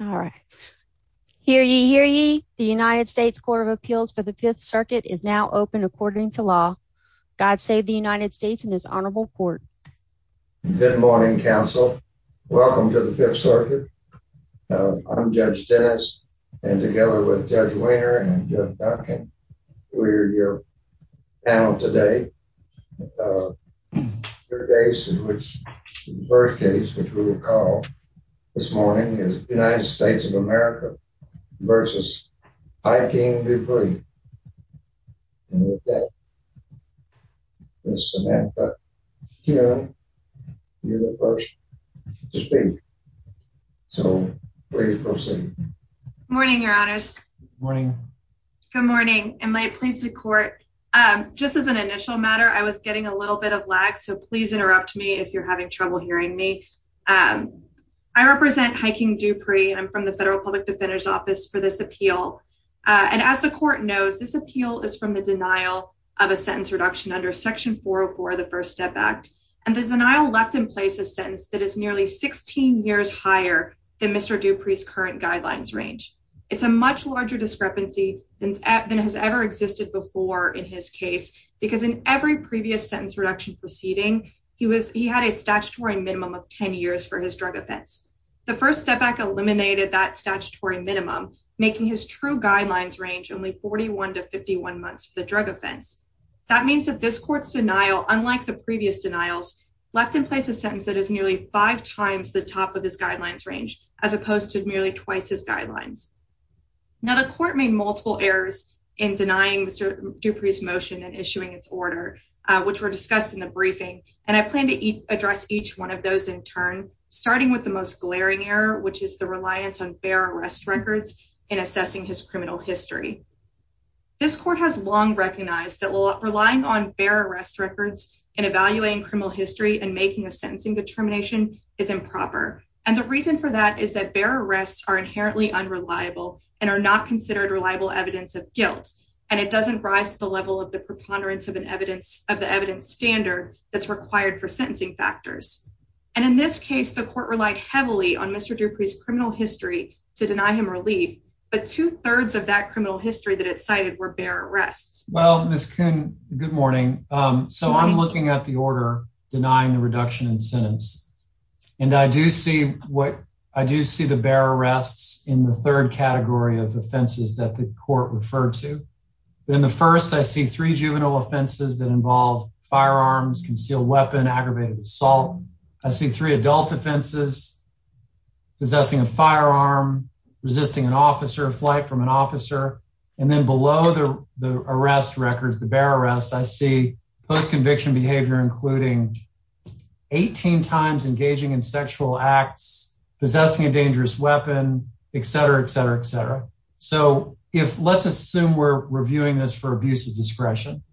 All right. Hear ye, hear ye. The United States Court of Appeals for the Fifth Circuit is now open according to law. God save the United States and his honorable court. Good morning, counsel. Welcome to the Fifth Circuit. I'm Judge Dennis, and together with Judge Wehner and Judge Duncan, we're your panel today. The first case, which we will call this morning, is United States of America v. I. King Dupre. And with that, Ms. Samantha Kuhn, you're the first to speak, so please proceed. Good morning, your honors. Good morning. Good morning. Am I pleased to court? Just as an initial matter, I was getting a little bit of lag, so please interrupt me if you're having trouble hearing me. I represent I. King Dupre, and I'm from the Federal Public Defender's Office for this appeal. And as the court knows, this appeal is from the denial of a sentence reduction under Section 404 of the First Step Act. And the denial left in place a sentence that is nearly 16 years higher than Mr. Dupre's current guidelines range. It's a much larger discrepancy than has ever existed before in his case, because in every previous sentence reduction proceeding, he had a statutory minimum of 10 years for his drug offense. The First Step Act eliminated that statutory minimum, making his true guidelines range only 41 to 51 months for the drug offense. That means that this court's denial, unlike the previous denials, left in place a sentence that is nearly five times the top of his guidelines range, as opposed to merely twice his guidelines. Now, the court made order, which were discussed in the briefing, and I plan to address each one of those in turn, starting with the most glaring error, which is the reliance on bear arrest records in assessing his criminal history. This court has long recognized that relying on bear arrest records in evaluating criminal history and making a sentencing determination is improper. And the reason for that is that bear arrests are inherently unreliable and are not considered reliable evidence of guilt, and it doesn't rise to the level of the preponderance of an evidence of the evidence standard that's required for sentencing factors. And in this case, the court relied heavily on Mr Dupree's criminal history to deny him relief, but two thirds of that criminal history that it cited were bear arrests. Well, Miss Coon, good morning. So I'm looking at the order denying the reduction in sentence, and I do see what I do see the bear arrests in the third category of offenses that the court referred to. In the first, I see three juvenile offenses that involve firearms, concealed weapon, aggravated assault. I see three adult offenses, possessing a firearm, resisting an officer, a flight from an officer. And then below the arrest records, the bear arrests, I see post conviction behavior, including 18 times engaging in sexual acts, possessing a dangerous weapon, et cetera, et cetera, et cetera. So if let's assume we're reviewing this for abuse of discretion,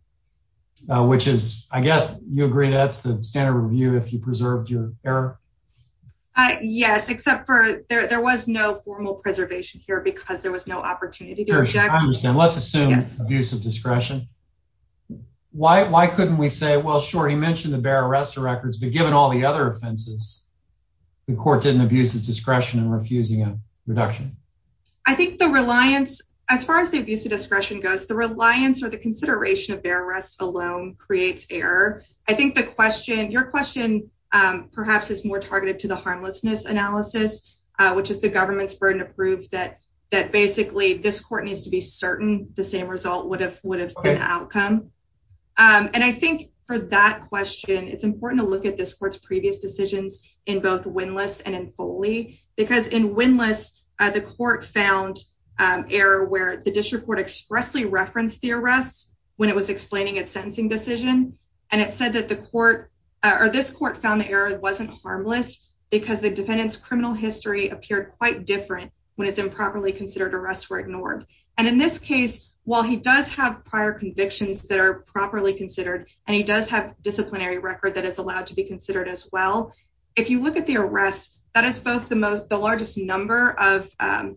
which is, I guess you agree that's the standard review if you preserved your error. Yes, except for there was no formal preservation here because there was no opportunity to object. I understand. Let's assume abuse of discretion. Why couldn't we say, well, sure, he mentioned the bear arrest of records, but given all the other offenses, the court didn't abuse discretion in refusing a reduction. I think the reliance, as far as the abuse of discretion goes, the reliance or the consideration of bear arrest alone creates error. I think the question, your question perhaps is more targeted to the harmlessness analysis, which is the government's burden of proof that basically this court needs to be certain the same result would have been the outcome. And I think for that question, it's important to look at this court's previous decisions in both windlass and in Foley because in windlass, the court found error where the district court expressly referenced the arrest when it was explaining its sentencing decision. And it said that the court or this court found the error wasn't harmless because the defendant's criminal history appeared quite different when it's improperly considered arrests were ignored. And in this case, while he does have prior convictions that are properly considered, and he does have disciplinary record that is allowed to be considered as well. If you look at the arrest, that is both the largest number of, I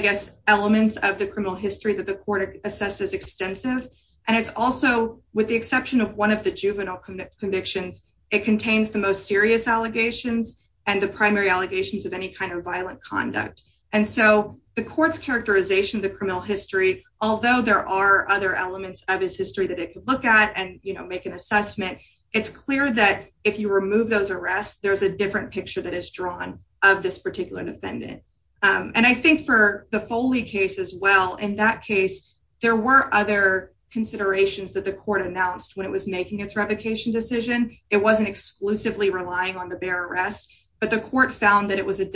guess, elements of the criminal history that the court assessed as extensive. And it's also, with the exception of one of the juvenile convictions, it contains the most serious allegations and the primary allegations of any kind of violent conduct. And so the court's characterization of the criminal history, although there are other elements of his history that it could look at and make an assessment, it's clear that if you remove those arrests, there's a different picture that is drawn of this particular defendant. And I think for the Foley case as well, in that case, there were other considerations that the court announced when it was making its revocation decision. It wasn't exclusively relying on the bear arrest, but the court found that it was a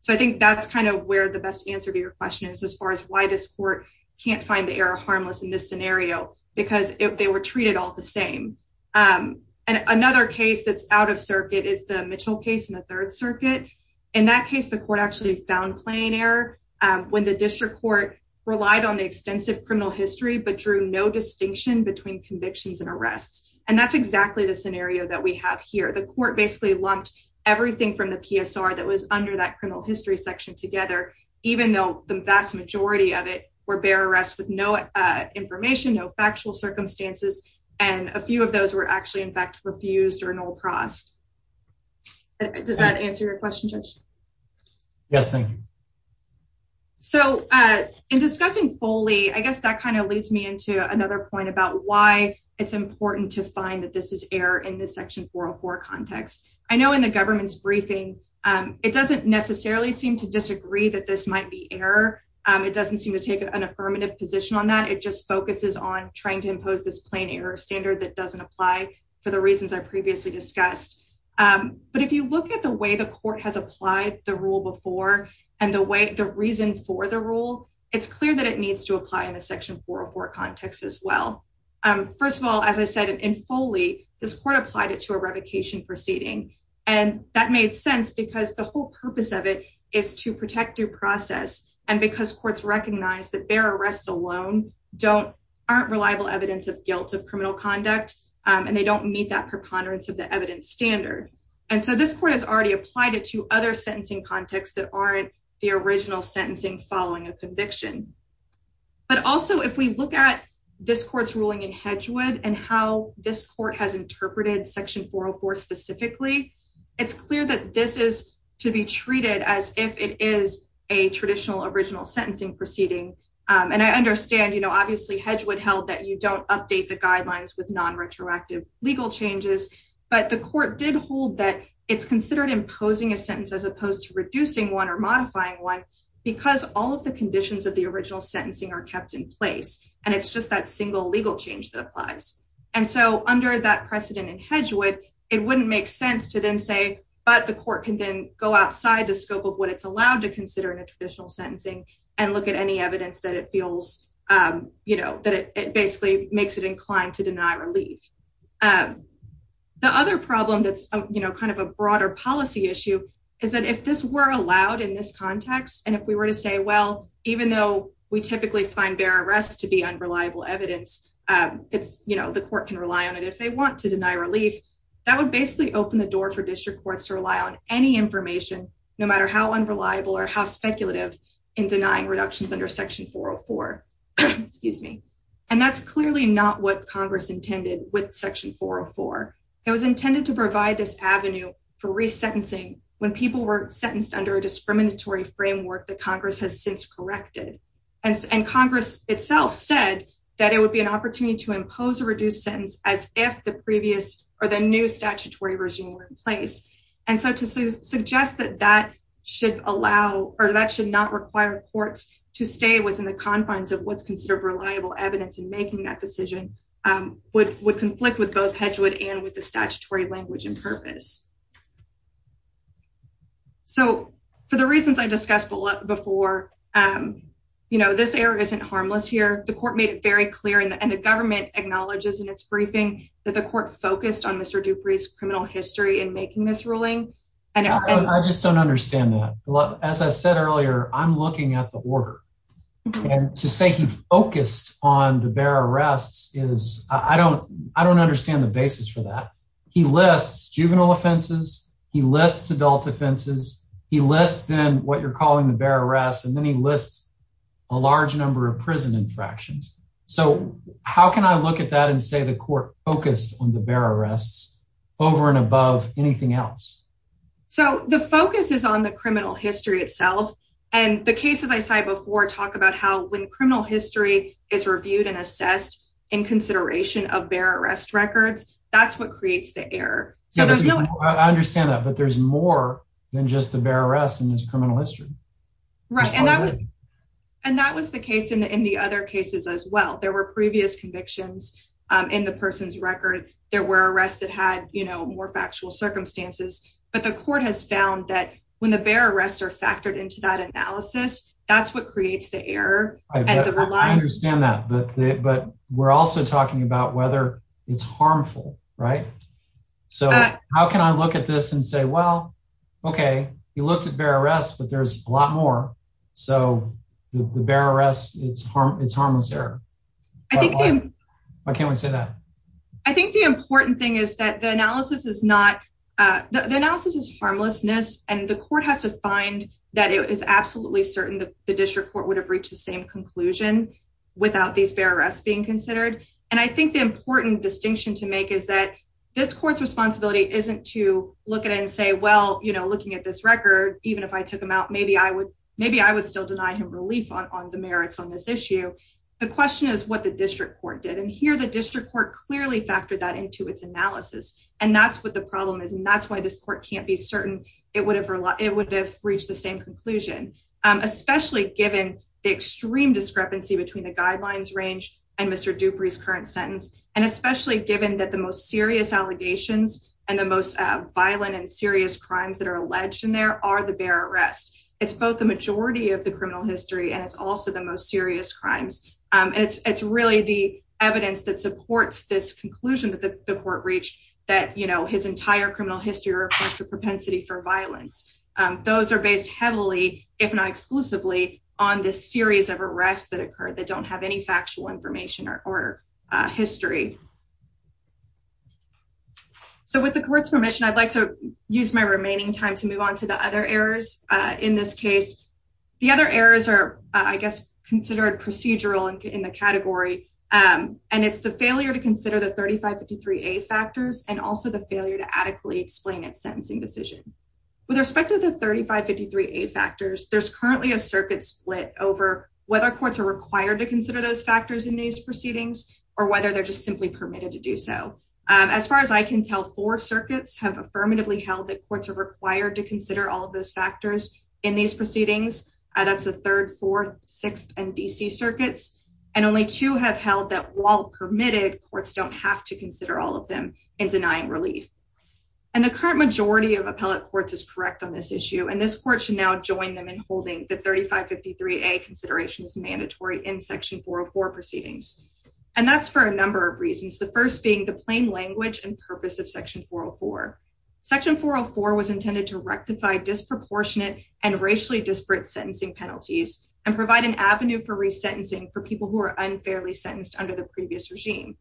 So I think that's kind of where the best answer to your question is as far as why this court can't find the error harmless in this scenario, because they were treated all the same. And another case that's out of circuit is the Mitchell case in the Third Circuit. In that case, the court actually found plain error when the district court relied on the extensive criminal history, but drew no distinction between convictions and arrests. And that's exactly the scenario that we have here. The court basically lumped everything from the PSR that was under criminal history section together, even though the vast majority of it were bear arrests with no information, no factual circumstances. And a few of those were actually, in fact, refused or no crossed. Does that answer your question, Judge? Yes, thank you. So in discussing Foley, I guess that kind of leads me into another point about why it's important to find that this is error in section 404 context. I know in the government's briefing, it doesn't necessarily seem to disagree that this might be error. It doesn't seem to take an affirmative position on that. It just focuses on trying to impose this plain error standard that doesn't apply for the reasons I previously discussed. But if you look at the way the court has applied the rule before and the reason for the rule, it's clear that it needs to apply in the section 404 context as well. First of all, as I said, in Foley, this court applied it to a revocation proceeding. And that made sense because the whole purpose of it is to protect due process. And because courts recognize that bear arrests alone aren't reliable evidence of guilt of criminal conduct, and they don't meet that preponderance of the evidence standard. And so this court has already applied it to other sentencing contexts that aren't the original sentencing following a conviction. But also, if we look at this court's ruling in Hedgewood and how this court has interpreted section 404 specifically, it's clear that this is to be treated as if it is a traditional original sentencing proceeding. And I understand, you know, obviously Hedgewood held that you don't update the guidelines with non-retroactive legal changes. But the court did hold that it's considered imposing a sentence as opposed to reducing one or modifying one because all of the conditions of the original sentencing are kept in place. And it's just that single legal change that applies. And so under that precedent in Hedgewood, it wouldn't make sense to then say, but the court can then go outside the scope of what it's allowed to consider in a traditional sentencing and look at any evidence that it feels, you know, that it basically makes it inclined to deny relief. The other problem that's, you know, kind of a broader policy issue is that if this were allowed in this context, and if we were to say, well, even though we typically find bear arrests to be unreliable evidence it's, you know, the court can rely on it if they want to deny relief, that would basically open the door for district courts to rely on any information, no matter how unreliable or how speculative in denying reductions under section 404, excuse me. And that's clearly not what Congress intended with section 404. It was intended to provide this avenue for resentencing when people were sentenced under a discriminatory framework that Congress has since corrected. And Congress itself said that it would be an opportunity to impose a reduced sentence as if the previous or the new statutory regime were in place. And so to suggest that that should allow, or that should not require courts to stay within the confines of what's considered reliable evidence in making that decision would conflict with both Hedgewood and with the statutory language and purpose. So for the reasons I discussed before, you know, this area isn't harmless here. The court made it very clear and the government acknowledges in its briefing that the court focused on Mr. Dupree's criminal history in making this ruling. I just don't understand that. As I said earlier, I'm looking at the order and to say he focused on the bear arrests is, I don't understand the basis for that. He lists juvenile offenses, he lists adult offenses, he lists then what you're calling the bear arrests, and then he lists a large number of prison infractions. So how can I look at that and say the court focused on the bear arrests over and above anything else? So the focus is on the criminal history itself. And the cases I cited before talk about how when criminal history is reviewed and assessed in consideration of bear arrest records, that's what creates the error. Yeah, I understand that. But there's more than just the bear arrests in this criminal history. Right. And that was the case in the other cases as well. There were previous convictions in the person's record. There were arrests that had, you know, more factual circumstances. But the court has found that when the bear arrests are factored into that analysis, that's what creates the error. I understand that. But we're also talking about whether it's harmful, right? So how can I look at this and say, well, okay, he looked at bear arrests, but there's a lot more. So the bear arrests, it's harmless error. Why can't we say that? I think the important thing is that the analysis is harmlessness. And the court has to find that it is absolutely certain that the district court would have reached the same conclusion without these bear arrests being considered. And I think the important distinction to make is that this court's responsibility isn't to look at it and say, well, you know, looking at this record, even if I took them out, maybe I would still deny him relief on the merits on this issue. The question is what the district court did. And here, the district court clearly factored that into its analysis. And that's what the problem is. And that's why this court can't be certain it would have reached the same conclusion, especially given the extreme discrepancy between the guidelines range and Mr. Dupree's current sentence, and especially given that the most serious allegations and the most violent and serious crimes that are alleged in there are the bear arrests. It's both the majority of the criminal history, and it's also the most crimes. And it's really the evidence that supports this conclusion that the court reached that, you know, his entire criminal history reports a propensity for violence. Those are based heavily, if not exclusively, on this series of arrests that occurred that don't have any factual information or history. So with the court's permission, I'd like to use my remaining time to move on to the other errors. In this case, the other errors are, I guess, considered procedural and in the category. And it's the failure to consider the 3553A factors and also the failure to adequately explain its sentencing decision. With respect to the 3553A factors, there's currently a circuit split over whether courts are required to consider those factors in these proceedings or whether they're just simply permitted to do so. As far as I can tell, four circuits have affirmatively held that courts are required to consider all of those factors in these proceedings. That's the Third, Fourth, Sixth, and D.C. circuits. And only two have held that while permitted, courts don't have to consider all of them in denying relief. And the current majority of appellate courts is correct on this issue. And this court should now join them in holding the 3553A considerations mandatory in Section 404 proceedings. And that's for a number of reasons, the first being the plain language and purpose of Section 404. Section 404 was intended to rectify disproportionate and racially disparate sentencing penalties and provide an avenue for resentencing for people who are unfairly sentenced under the previous regime.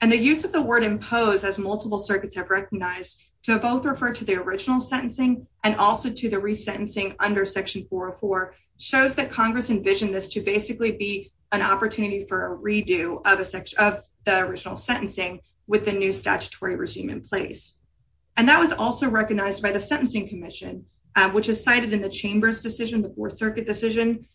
And the use of the word impose as multiple circuits have recognized to both refer to the original sentencing and also to the resentencing under Section 404 shows that Congress envisioned this to basically be an opportunity for a redo of the original sentencing with the new statutory regime in place. And that was also recognized by the Sentencing Commission, which is cited in the Chamber's decision, the Fourth Circuit decision.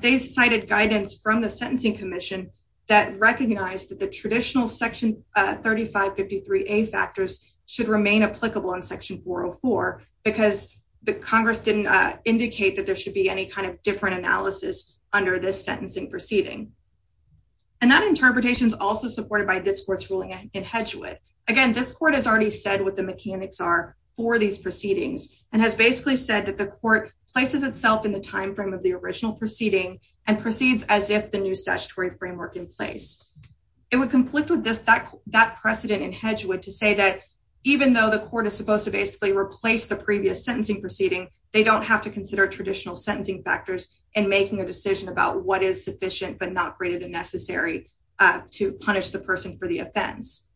They cited guidance from the Sentencing Commission that recognized that the traditional Section 3553A factors should remain applicable in Section 404 because the Congress didn't indicate that there should be any kind of different analysis under this sentencing proceeding. And that interpretation is also supported by this court's ruling in Hedgewood. Again, this court has already said what the mechanics are for these proceedings and has basically said that the court places itself in the time frame of the original proceeding and proceeds as if the new statutory framework in place. It would conflict with that precedent in Hedgewood to say that even though the court is supposed to basically replace the previous sentencing proceeding, they don't have to consider traditional sentencing factors in making a decision about what is sufficient but not greater than necessary to punish the person for the offense.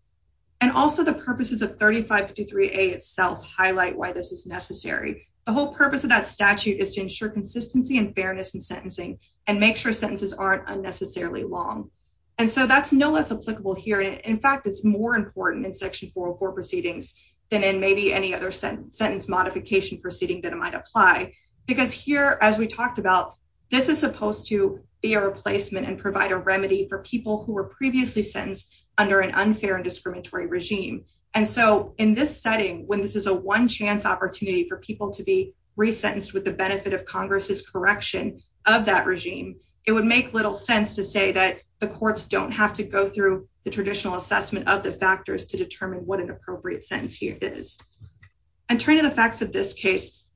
And also the purposes of 3553A itself highlight why this is necessary. The whole purpose of that statute is to ensure consistency and fairness in sentencing and make sure sentences aren't unnecessarily long. And so that's no less applicable here. In fact, it's more important in Section 404 proceedings than in maybe any other sentence modification proceeding that it might apply. Because here, as we talked about, this is supposed to be a replacement and provide a remedy for people who were previously sentenced under an unfair and discriminatory regime. And so in this setting, when this is a one-chance opportunity for people to be resentenced with the benefit of Congress's correction of that regime, it would make little sense to say that the courts don't have to go through the traditional assessment of the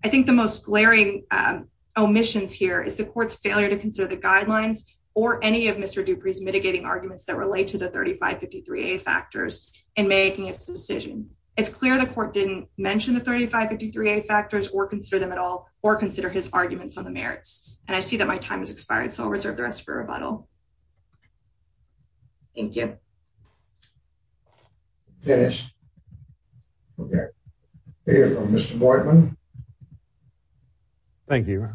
I think the most glaring omissions here is the court's failure to consider the guidelines or any of Mr. Dupree's mitigating arguments that relate to the 3553A factors in making its decision. It's clear the court didn't mention the 3553A factors or consider them at all or consider his arguments on the merits. And I see that my time has expired, so I'll reserve the for rebuttal. Thank you. Dennis. Okay. Mr. Boydman. Thank you.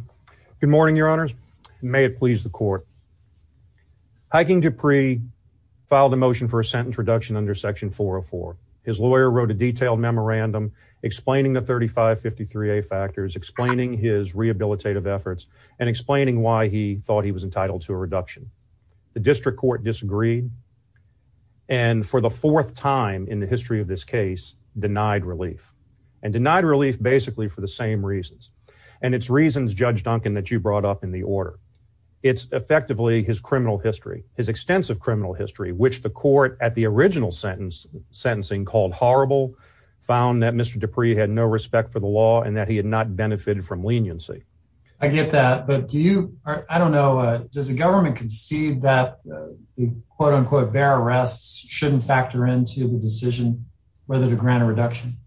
Good morning, Your Honors. May it please the court. Hiking Dupree filed a motion for a sentence reduction under Section 404. His lawyer wrote a detailed memorandum explaining the 3553A factors, explaining his rehabilitative efforts, and explaining why he thought he was entitled to a reduction. The district court disagreed, and for the fourth time in the history of this case, denied relief. And denied relief basically for the same reasons. And it's reasons, Judge Duncan, that you brought up in the order. It's effectively his criminal history, his extensive criminal history, which the court at the original sentence sentencing called horrible, found that Mr. Dupree had no respect for the law and that he had not benefited from leniency. I get that, but do you, I don't know, does the government concede that the quote-unquote bear arrests shouldn't factor into the decision whether to grant a reduction?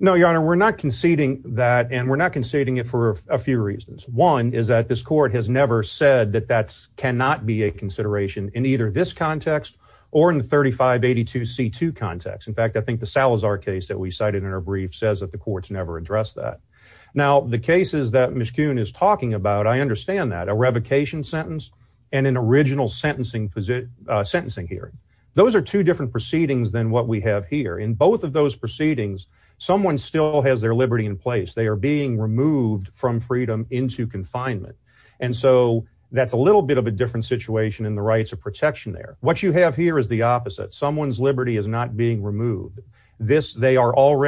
No, Your Honor, we're not conceding that and we're not conceding it for a few reasons. One is that this court has never said that that cannot be a consideration in either this context or in the 3582C2 context. In fact, I think the Salazar case that we cited in our brief says that the courts never addressed that. Now, the cases that Mishkun is talking about, I understand that. A revocation sentence and an original sentencing hearing. Those are two different proceedings than what we have here. In both of those proceedings, someone still has their liberty in place. They are being removed from freedom into confinement. And so that's a little bit of a different situation in the rights of protection there. What you have here is the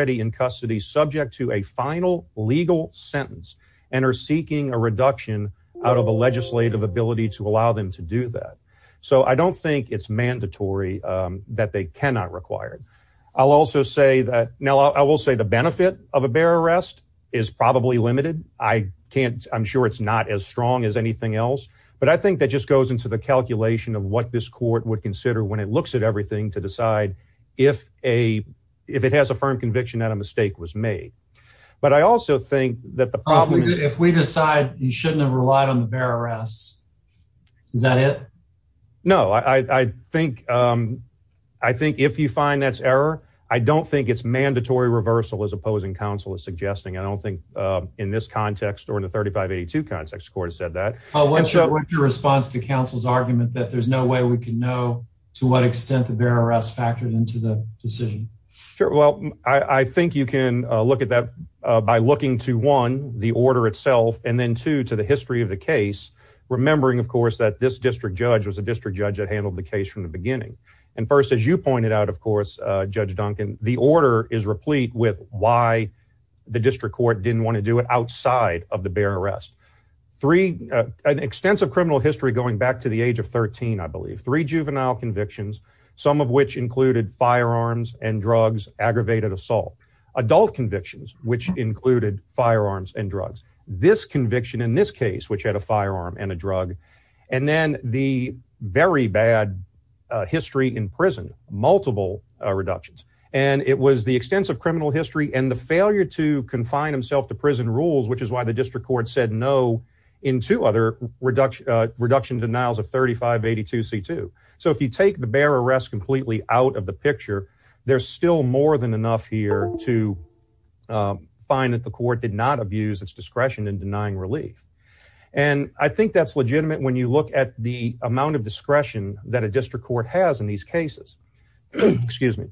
in custody subject to a final legal sentence and are seeking a reduction out of a legislative ability to allow them to do that. So I don't think it's mandatory that they cannot require it. I'll also say that, now I will say the benefit of a bear arrest is probably limited. I can't, I'm sure it's not as strong as anything else, but I think that just goes into the calculation of what this court would consider when it looks at everything to decide if a, if it has a firm conviction that a mistake was made. But I also think that the problem, if we decide you shouldn't have relied on the bear arrest, is that it? No, I think, I think if you find that's error, I don't think it's mandatory reversal as opposing counsel is suggesting. I don't think in this context or in the 3582 context, the court has said that. What's your response to counsel's argument that there's no way we can know to what extent the bear arrest factored into the decision? Sure. Well, I think you can look at that by looking to one, the order itself, and then two, to the history of the case. Remembering, of course, that this district judge was a district judge that handled the case from the beginning. And first, as you pointed out, of course, Judge Duncan, the order is replete with why the district court didn't want to do it outside of the bear arrest. Three, an extensive criminal history going back to the age of 13, I believe, three juvenile convictions, some of which included firearms and drugs, aggravated assault, adult convictions, which included firearms and drugs, this conviction in this case, which had a firearm and a drug, and then the very bad history in prison, multiple reductions. And it was the extensive criminal history and the failure to confine himself to prison rules, which is why the district court said in two other reduction denials of 3582 C2. So if you take the bear arrest completely out of the picture, there's still more than enough here to find that the court did not abuse its discretion in denying relief. And I think that's legitimate when you look at the amount of discretion that a district court has in these cases. Excuse me.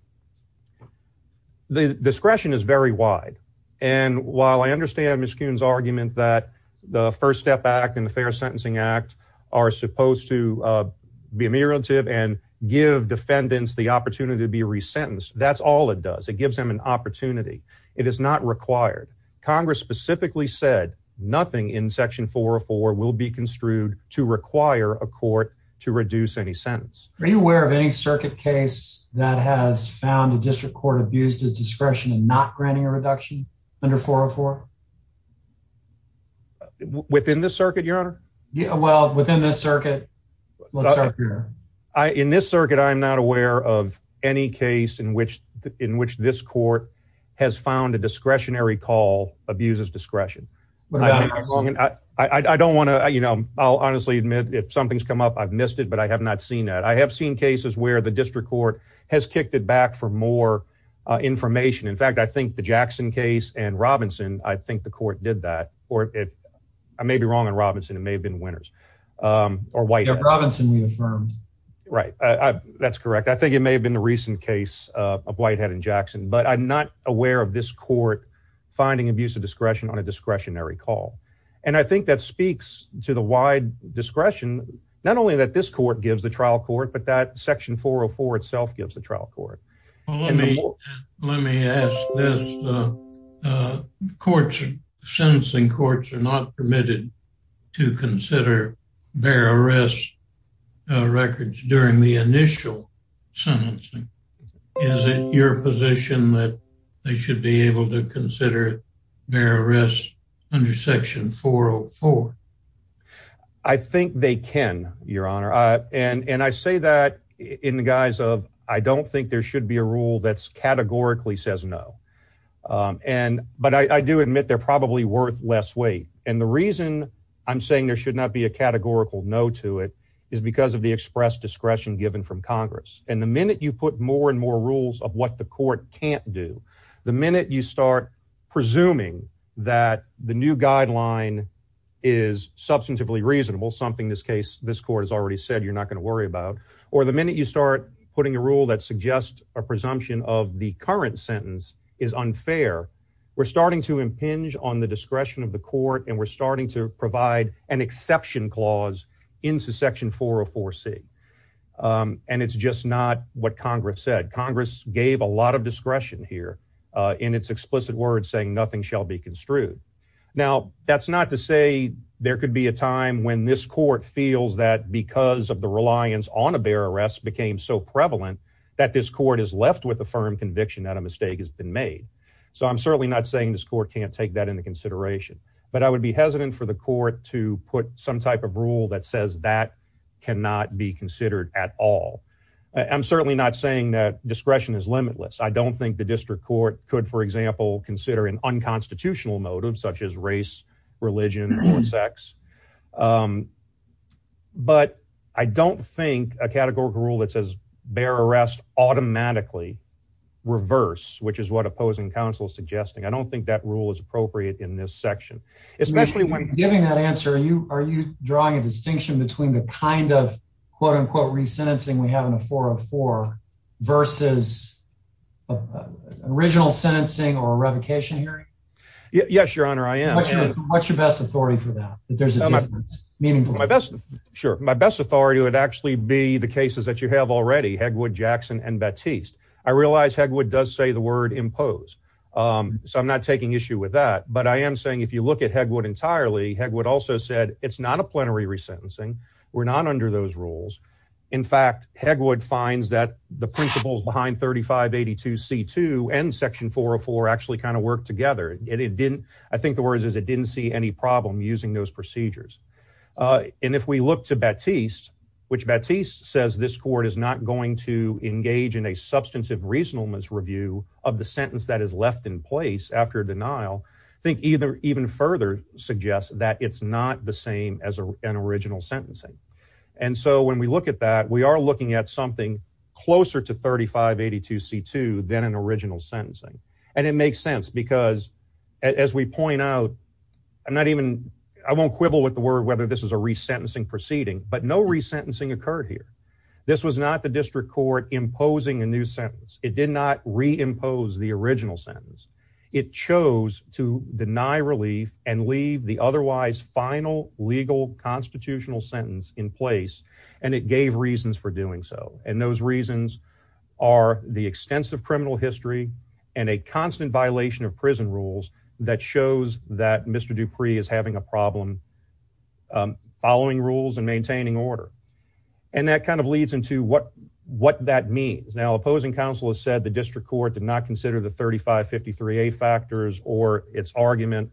The discretion is very wide. And while I understand argument that the First Step Act and the Fair Sentencing Act are supposed to be ameliorative and give defendants the opportunity to be resentenced. That's all it does. It gives them an opportunity. It is not required. Congress specifically said nothing in Section 404 will be construed to require a court to reduce any sentence. Are you aware of any circuit case that has found a district court abused his discretion and not granting a reduction under 404 within this circuit, your honor? Well, within this circuit, in this circuit, I'm not aware of any case in which in which this court has found a discretionary call abuses discretion. I don't want to, you know, I'll honestly admit if something's come up, I've missed it, but I have not seen that. I have seen cases where the district court has kicked it back for more information. In fact, I think the Jackson case and Robinson, I think the court did that. Or if I may be wrong in Robinson, it may have been winners or white Robinson. We affirmed right. That's correct. I think it may have been the recent case of Whitehead and Jackson, but I'm not aware of this court finding abuse of discretion on a discretionary call. And I think that speaks to the wide discretion, not only that this court gives a trial court, but that section 404 itself gives a trial court. Let me let me ask this. Courts sentencing courts are not permitted to consider their arrest records during the initial sentencing. Is it your position that they should be able to consider their arrest under section 404? I think they can, Your Honor. And I say that in the guise of I don't think there should be a rule that's categorically says no. And but I do admit they're probably worth less weight. And the reason I'm saying there should not be a categorical no to it is because of the express discretion given from Congress. And the minute you put more and more rules of what the court can't do, the minute you start presuming that the new guideline is substantively reasonable, something this case this court has already said you're not going to worry about, or the minute you start putting a rule that suggests a presumption of the current sentence is unfair. We're starting to impinge on the discretion of the court, and we're starting to provide an exception clause into section 404 C. And it's just not what Congress said. Congress gave a lot of discretion here in its explicit words saying nothing shall be construed. Now, that's not to say there could be a time when this court feels that because of the reliance on a bear arrest became so prevalent that this court is left with a firm conviction that a mistake has been made. So I'm certainly not saying this court can't take that into consideration. But I would be hesitant for the court to put some type of rule that says that cannot be considered at all. I'm certainly not saying that discretion is limitless. I don't think the district court could, for example, consider an unconstitutional motive such as race, religion, or sex. But I don't think a categorical rule that says bear arrest automatically reverse, which is what opposing counsel is suggesting. I don't think that rule is appropriate in this section, especially when you're giving that answer. Are you drawing a distinction between the kind of quote unquote resentencing we have in a 404 versus original sentencing or revocation hearing? Yes, your honor. I am. What's your best authority for that? That there's a meaningful my best. Sure. My best authority would actually be the cases that you have already. Hegwood, Jackson and Baptiste. I realize Hegwood does say the word impose. Um, so I'm not taking issue with that. But I am saying if you look at Hegwood entirely, Hegwood also said it's not a plenary resentencing. We're not under those rules. In fact, Hegwood finds that the principles behind 3582 C2 and section 404 actually kind of work together. And it didn't. I think the words is it didn't see any problem using those procedures. And if we look to Baptiste, which Baptiste says this court is not going to engage in a substantive reasonableness review of the sentence that is left in place after denial, think either even further suggests that it's not the same as an original sentencing. And so when we look at that, we are looking at something closer to 3582 C2 than an original sentencing. And it makes sense because as we point out, I'm not even I won't quibble with the word whether this is a resentencing proceeding, but no resentencing occurred here. This was not the district court imposing a new sentence. It did not reimpose the original sentence. It chose to deny relief and leave the otherwise final legal constitutional sentence in place. And it gave reasons for doing so. And those reasons are the extensive criminal history and a constant violation of prison rules that shows that Mr. Dupree is having a problem following rules and maintaining order. And that kind of leads into what that means. Now, opposing counsel has said the district court did not consider the 3553A factors or its argument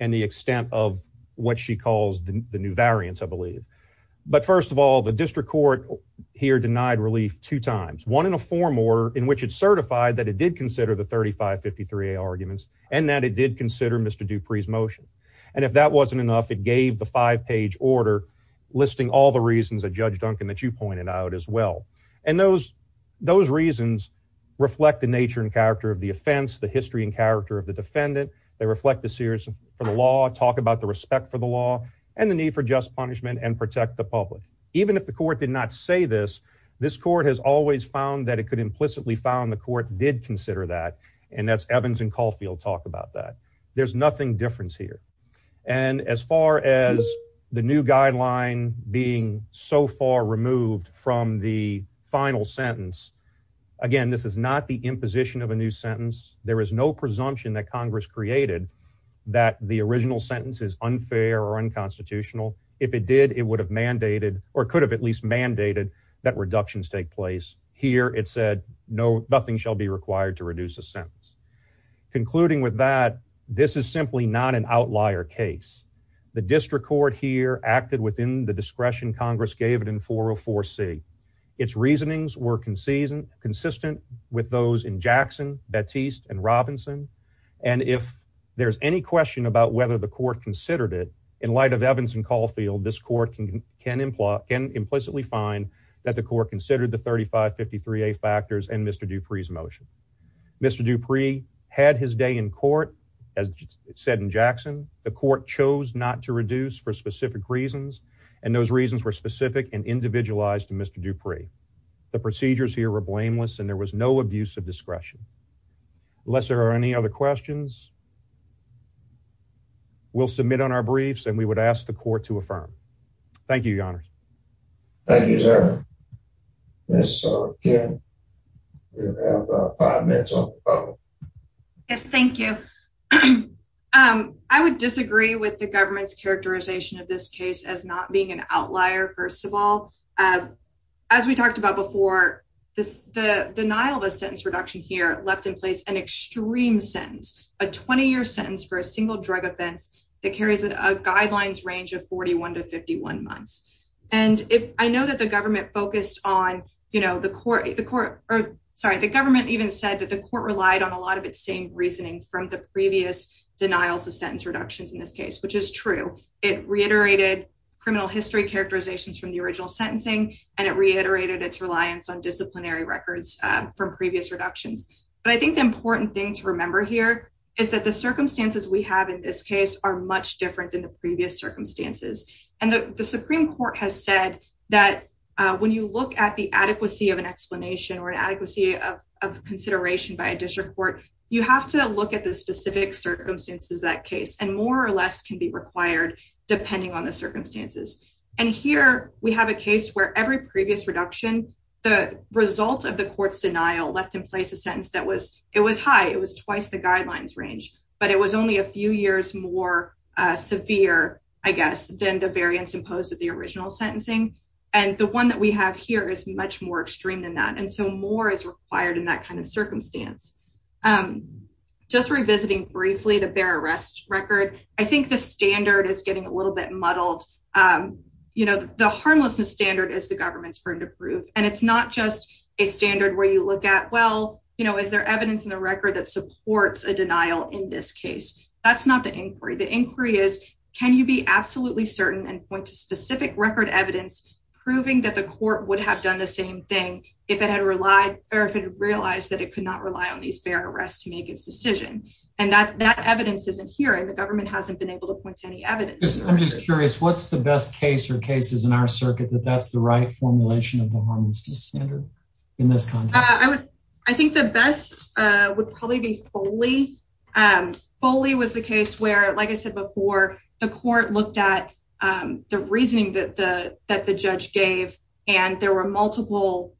and the extent of what she calls the new variants, I believe. But first of all, the district court here denied relief two times, one in a form order in which it certified that it did consider the 3553A arguments and that it did consider Mr. Dupree's motion. And if that wasn't enough, it gave the five page order listing all the reasons that Judge Duncan that you pointed out as well. And those those reasons reflect the nature and character of the offense, the history and character of the defendant. They reflect the seriousness for the law, talk about the respect for the law and the need for just punishment and protect the public. Even if the court did not say this, this court has always found that it could implicitly found the court did consider that and that's Evans and Caulfield talk about that. There's nothing different here. And as far as the new guideline being so far removed from the final sentence, again, this is not the imposition of a new sentence. There is no presumption that Congress created that the original sentence is unfair or unconstitutional. If it did, it would have mandated or could have at least mandated that reductions take place here. It said, no, nothing shall be required to reduce a sentence. Concluding with that, this is simply not an outlier case. The district court here acted within the discretion Congress gave it in 404 C. Its reasonings were consistent, consistent with those in Jackson, Batiste and Robinson. And if there's any question about whether the court considered it in light of Evans and Caulfield, this court can imply can implicitly find that the court considered the 35 53 a factors and Mr. Dupree's motion. Mr. Dupree had his day in court. As it said in Jackson, the court chose not to reduce for specific reasons, and those reasons were specific and individualized to Mr. Dupree. The procedures here were blameless, and there was no abuse of discretion. Unless there are any other questions, we'll submit on our briefs, and we would ask the court to affirm. Thank you, Your Honor. Thank you, sir. Yes, sir. Again, you have five minutes on the phone. Yes, thank you. I would disagree with the government's characterization of this case as not being an outlier. First of all, as we talked about before this, the denial of a sentence reduction here left in place an extreme sentence, a 20 year sentence for a single drug offense that carries a guidelines range of 41 to 51 months. And if I know that the government focused on, you know, the court, the court or sorry, the government even said that the court relied on a lot of its same reasoning from the previous denials of sentence reductions in this case, which is true. It reiterated criminal history characterizations from the original sentencing, and it reiterated its reliance on disciplinary records from previous reductions. But I think the important thing to remember here is that the circumstances we have in this case are much different than the previous circumstances. And the Supreme Court has said that when you look at the adequacy of an explanation or an adequacy of consideration by a district court, you have to look at the specific circumstances that case and more or less can be required, depending on the previous reduction, the result of the court's denial left in place a sentence that was it was high, it was twice the guidelines range, but it was only a few years more severe, I guess, than the variance imposed at the original sentencing. And the one that we have here is much more extreme than that. And so more is required in that kind of circumstance. Just revisiting briefly the bear arrest record, I think the standard is getting a little bit muddled. You know, the harmlessness standard is the government's burden of proof. And it's not just a standard where you look at, well, you know, is there evidence in the record that supports a denial in this case? That's not the inquiry. The inquiry is, can you be absolutely certain and point to specific record evidence, proving that the court would have done the same thing if it had relied or if it realized that it could not rely on these bear arrests to make its decision. And that that evidence isn't here. And the government hasn't been able to point to any evidence. I'm just curious, what's the best case or cases in our circuit that that's the right formulation of the harmlessness standard in this context? I think the best would probably be Foley. Foley was the case where, like I said before, the court looked at the reasoning that the judge gave, and there were multiple,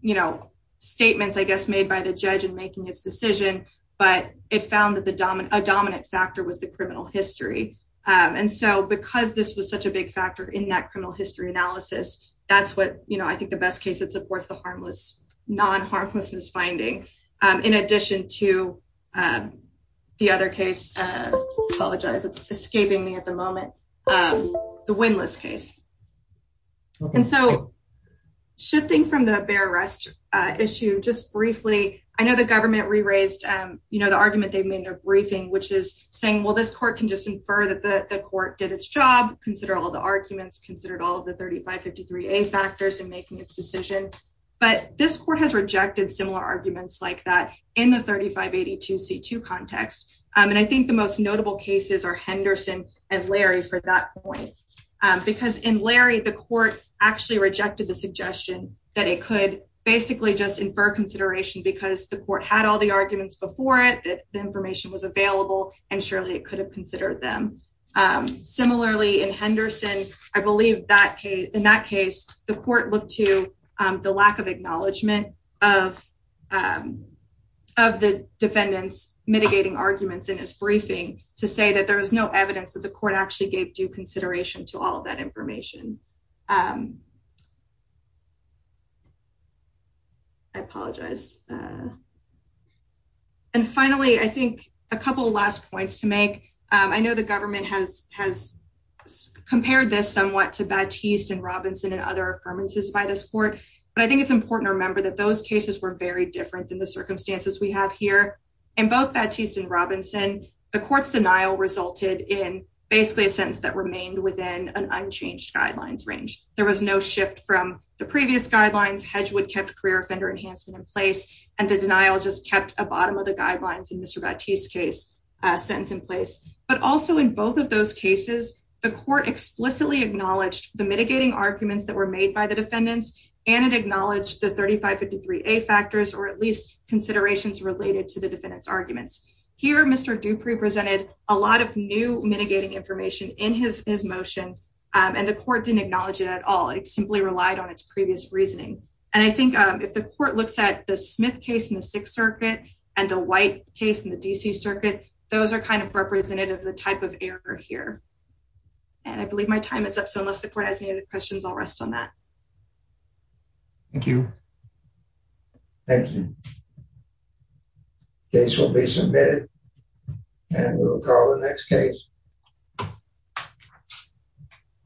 you know, statements, I guess, made by the judge in making his decision. But it found that a dominant factor was the criminal history. And so because this was such a big factor in that criminal history analysis, that's what, you know, I think the best case that supports the harmless, non-harmlessness finding, in addition to the other case, I apologize, it's escaping me at the moment, the Windlass case. And so shifting from the bear arrest issue, just briefly, I know the government re-raised, you know, the argument they've made in their briefing, which is saying, well, this court can just infer that the court did its job, consider all the arguments, considered all of the 3553A factors in making its decision. But this court has rejected similar arguments like that in the 3582C2 context. And I think the most notable cases are Henderson and Larry for that point. Because in Larry, the court actually rejected the suggestion that it could basically just infer consideration because the court had all the arguments before it, that the information was available, and surely it could have considered them. Similarly, in Henderson, I believe in that case, the court looked to the lack of acknowledgement of the defendants mitigating arguments in his briefing to say that there was no evidence that the court actually gave due consideration to all of that information. I apologize. And finally, I think a couple of last points to make. I know the government has compared this somewhat to Batiste and Robinson and other affirmances by this court. But I think it's important to remember that those cases were very different than the circumstances we have here. In both Batiste and Robinson, the court's denial resulted in basically a sentence that remained an unchanged guidelines range. There was no shift from the previous guidelines. Hedgewood kept career offender enhancement in place, and the denial just kept a bottom of the guidelines in Mr. Batiste's case sentence in place. But also in both of those cases, the court explicitly acknowledged the mitigating arguments that were made by the defendants, and it acknowledged the 3553A factors, or at least considerations related to the defendant's arguments. Here, Mr. Dupree presented a lot of new mitigating information in his motion, and the court didn't acknowledge it at all. It simply relied on its previous reasoning. And I think if the court looks at the Smith case in the Sixth Circuit and the White case in the D.C. Circuit, those are kind of representative of the type of error here. And I believe my time is up, so unless the court has any other questions, I'll rest on that. Thank you. Thank you. Case will be submitted. And we'll go to the next case.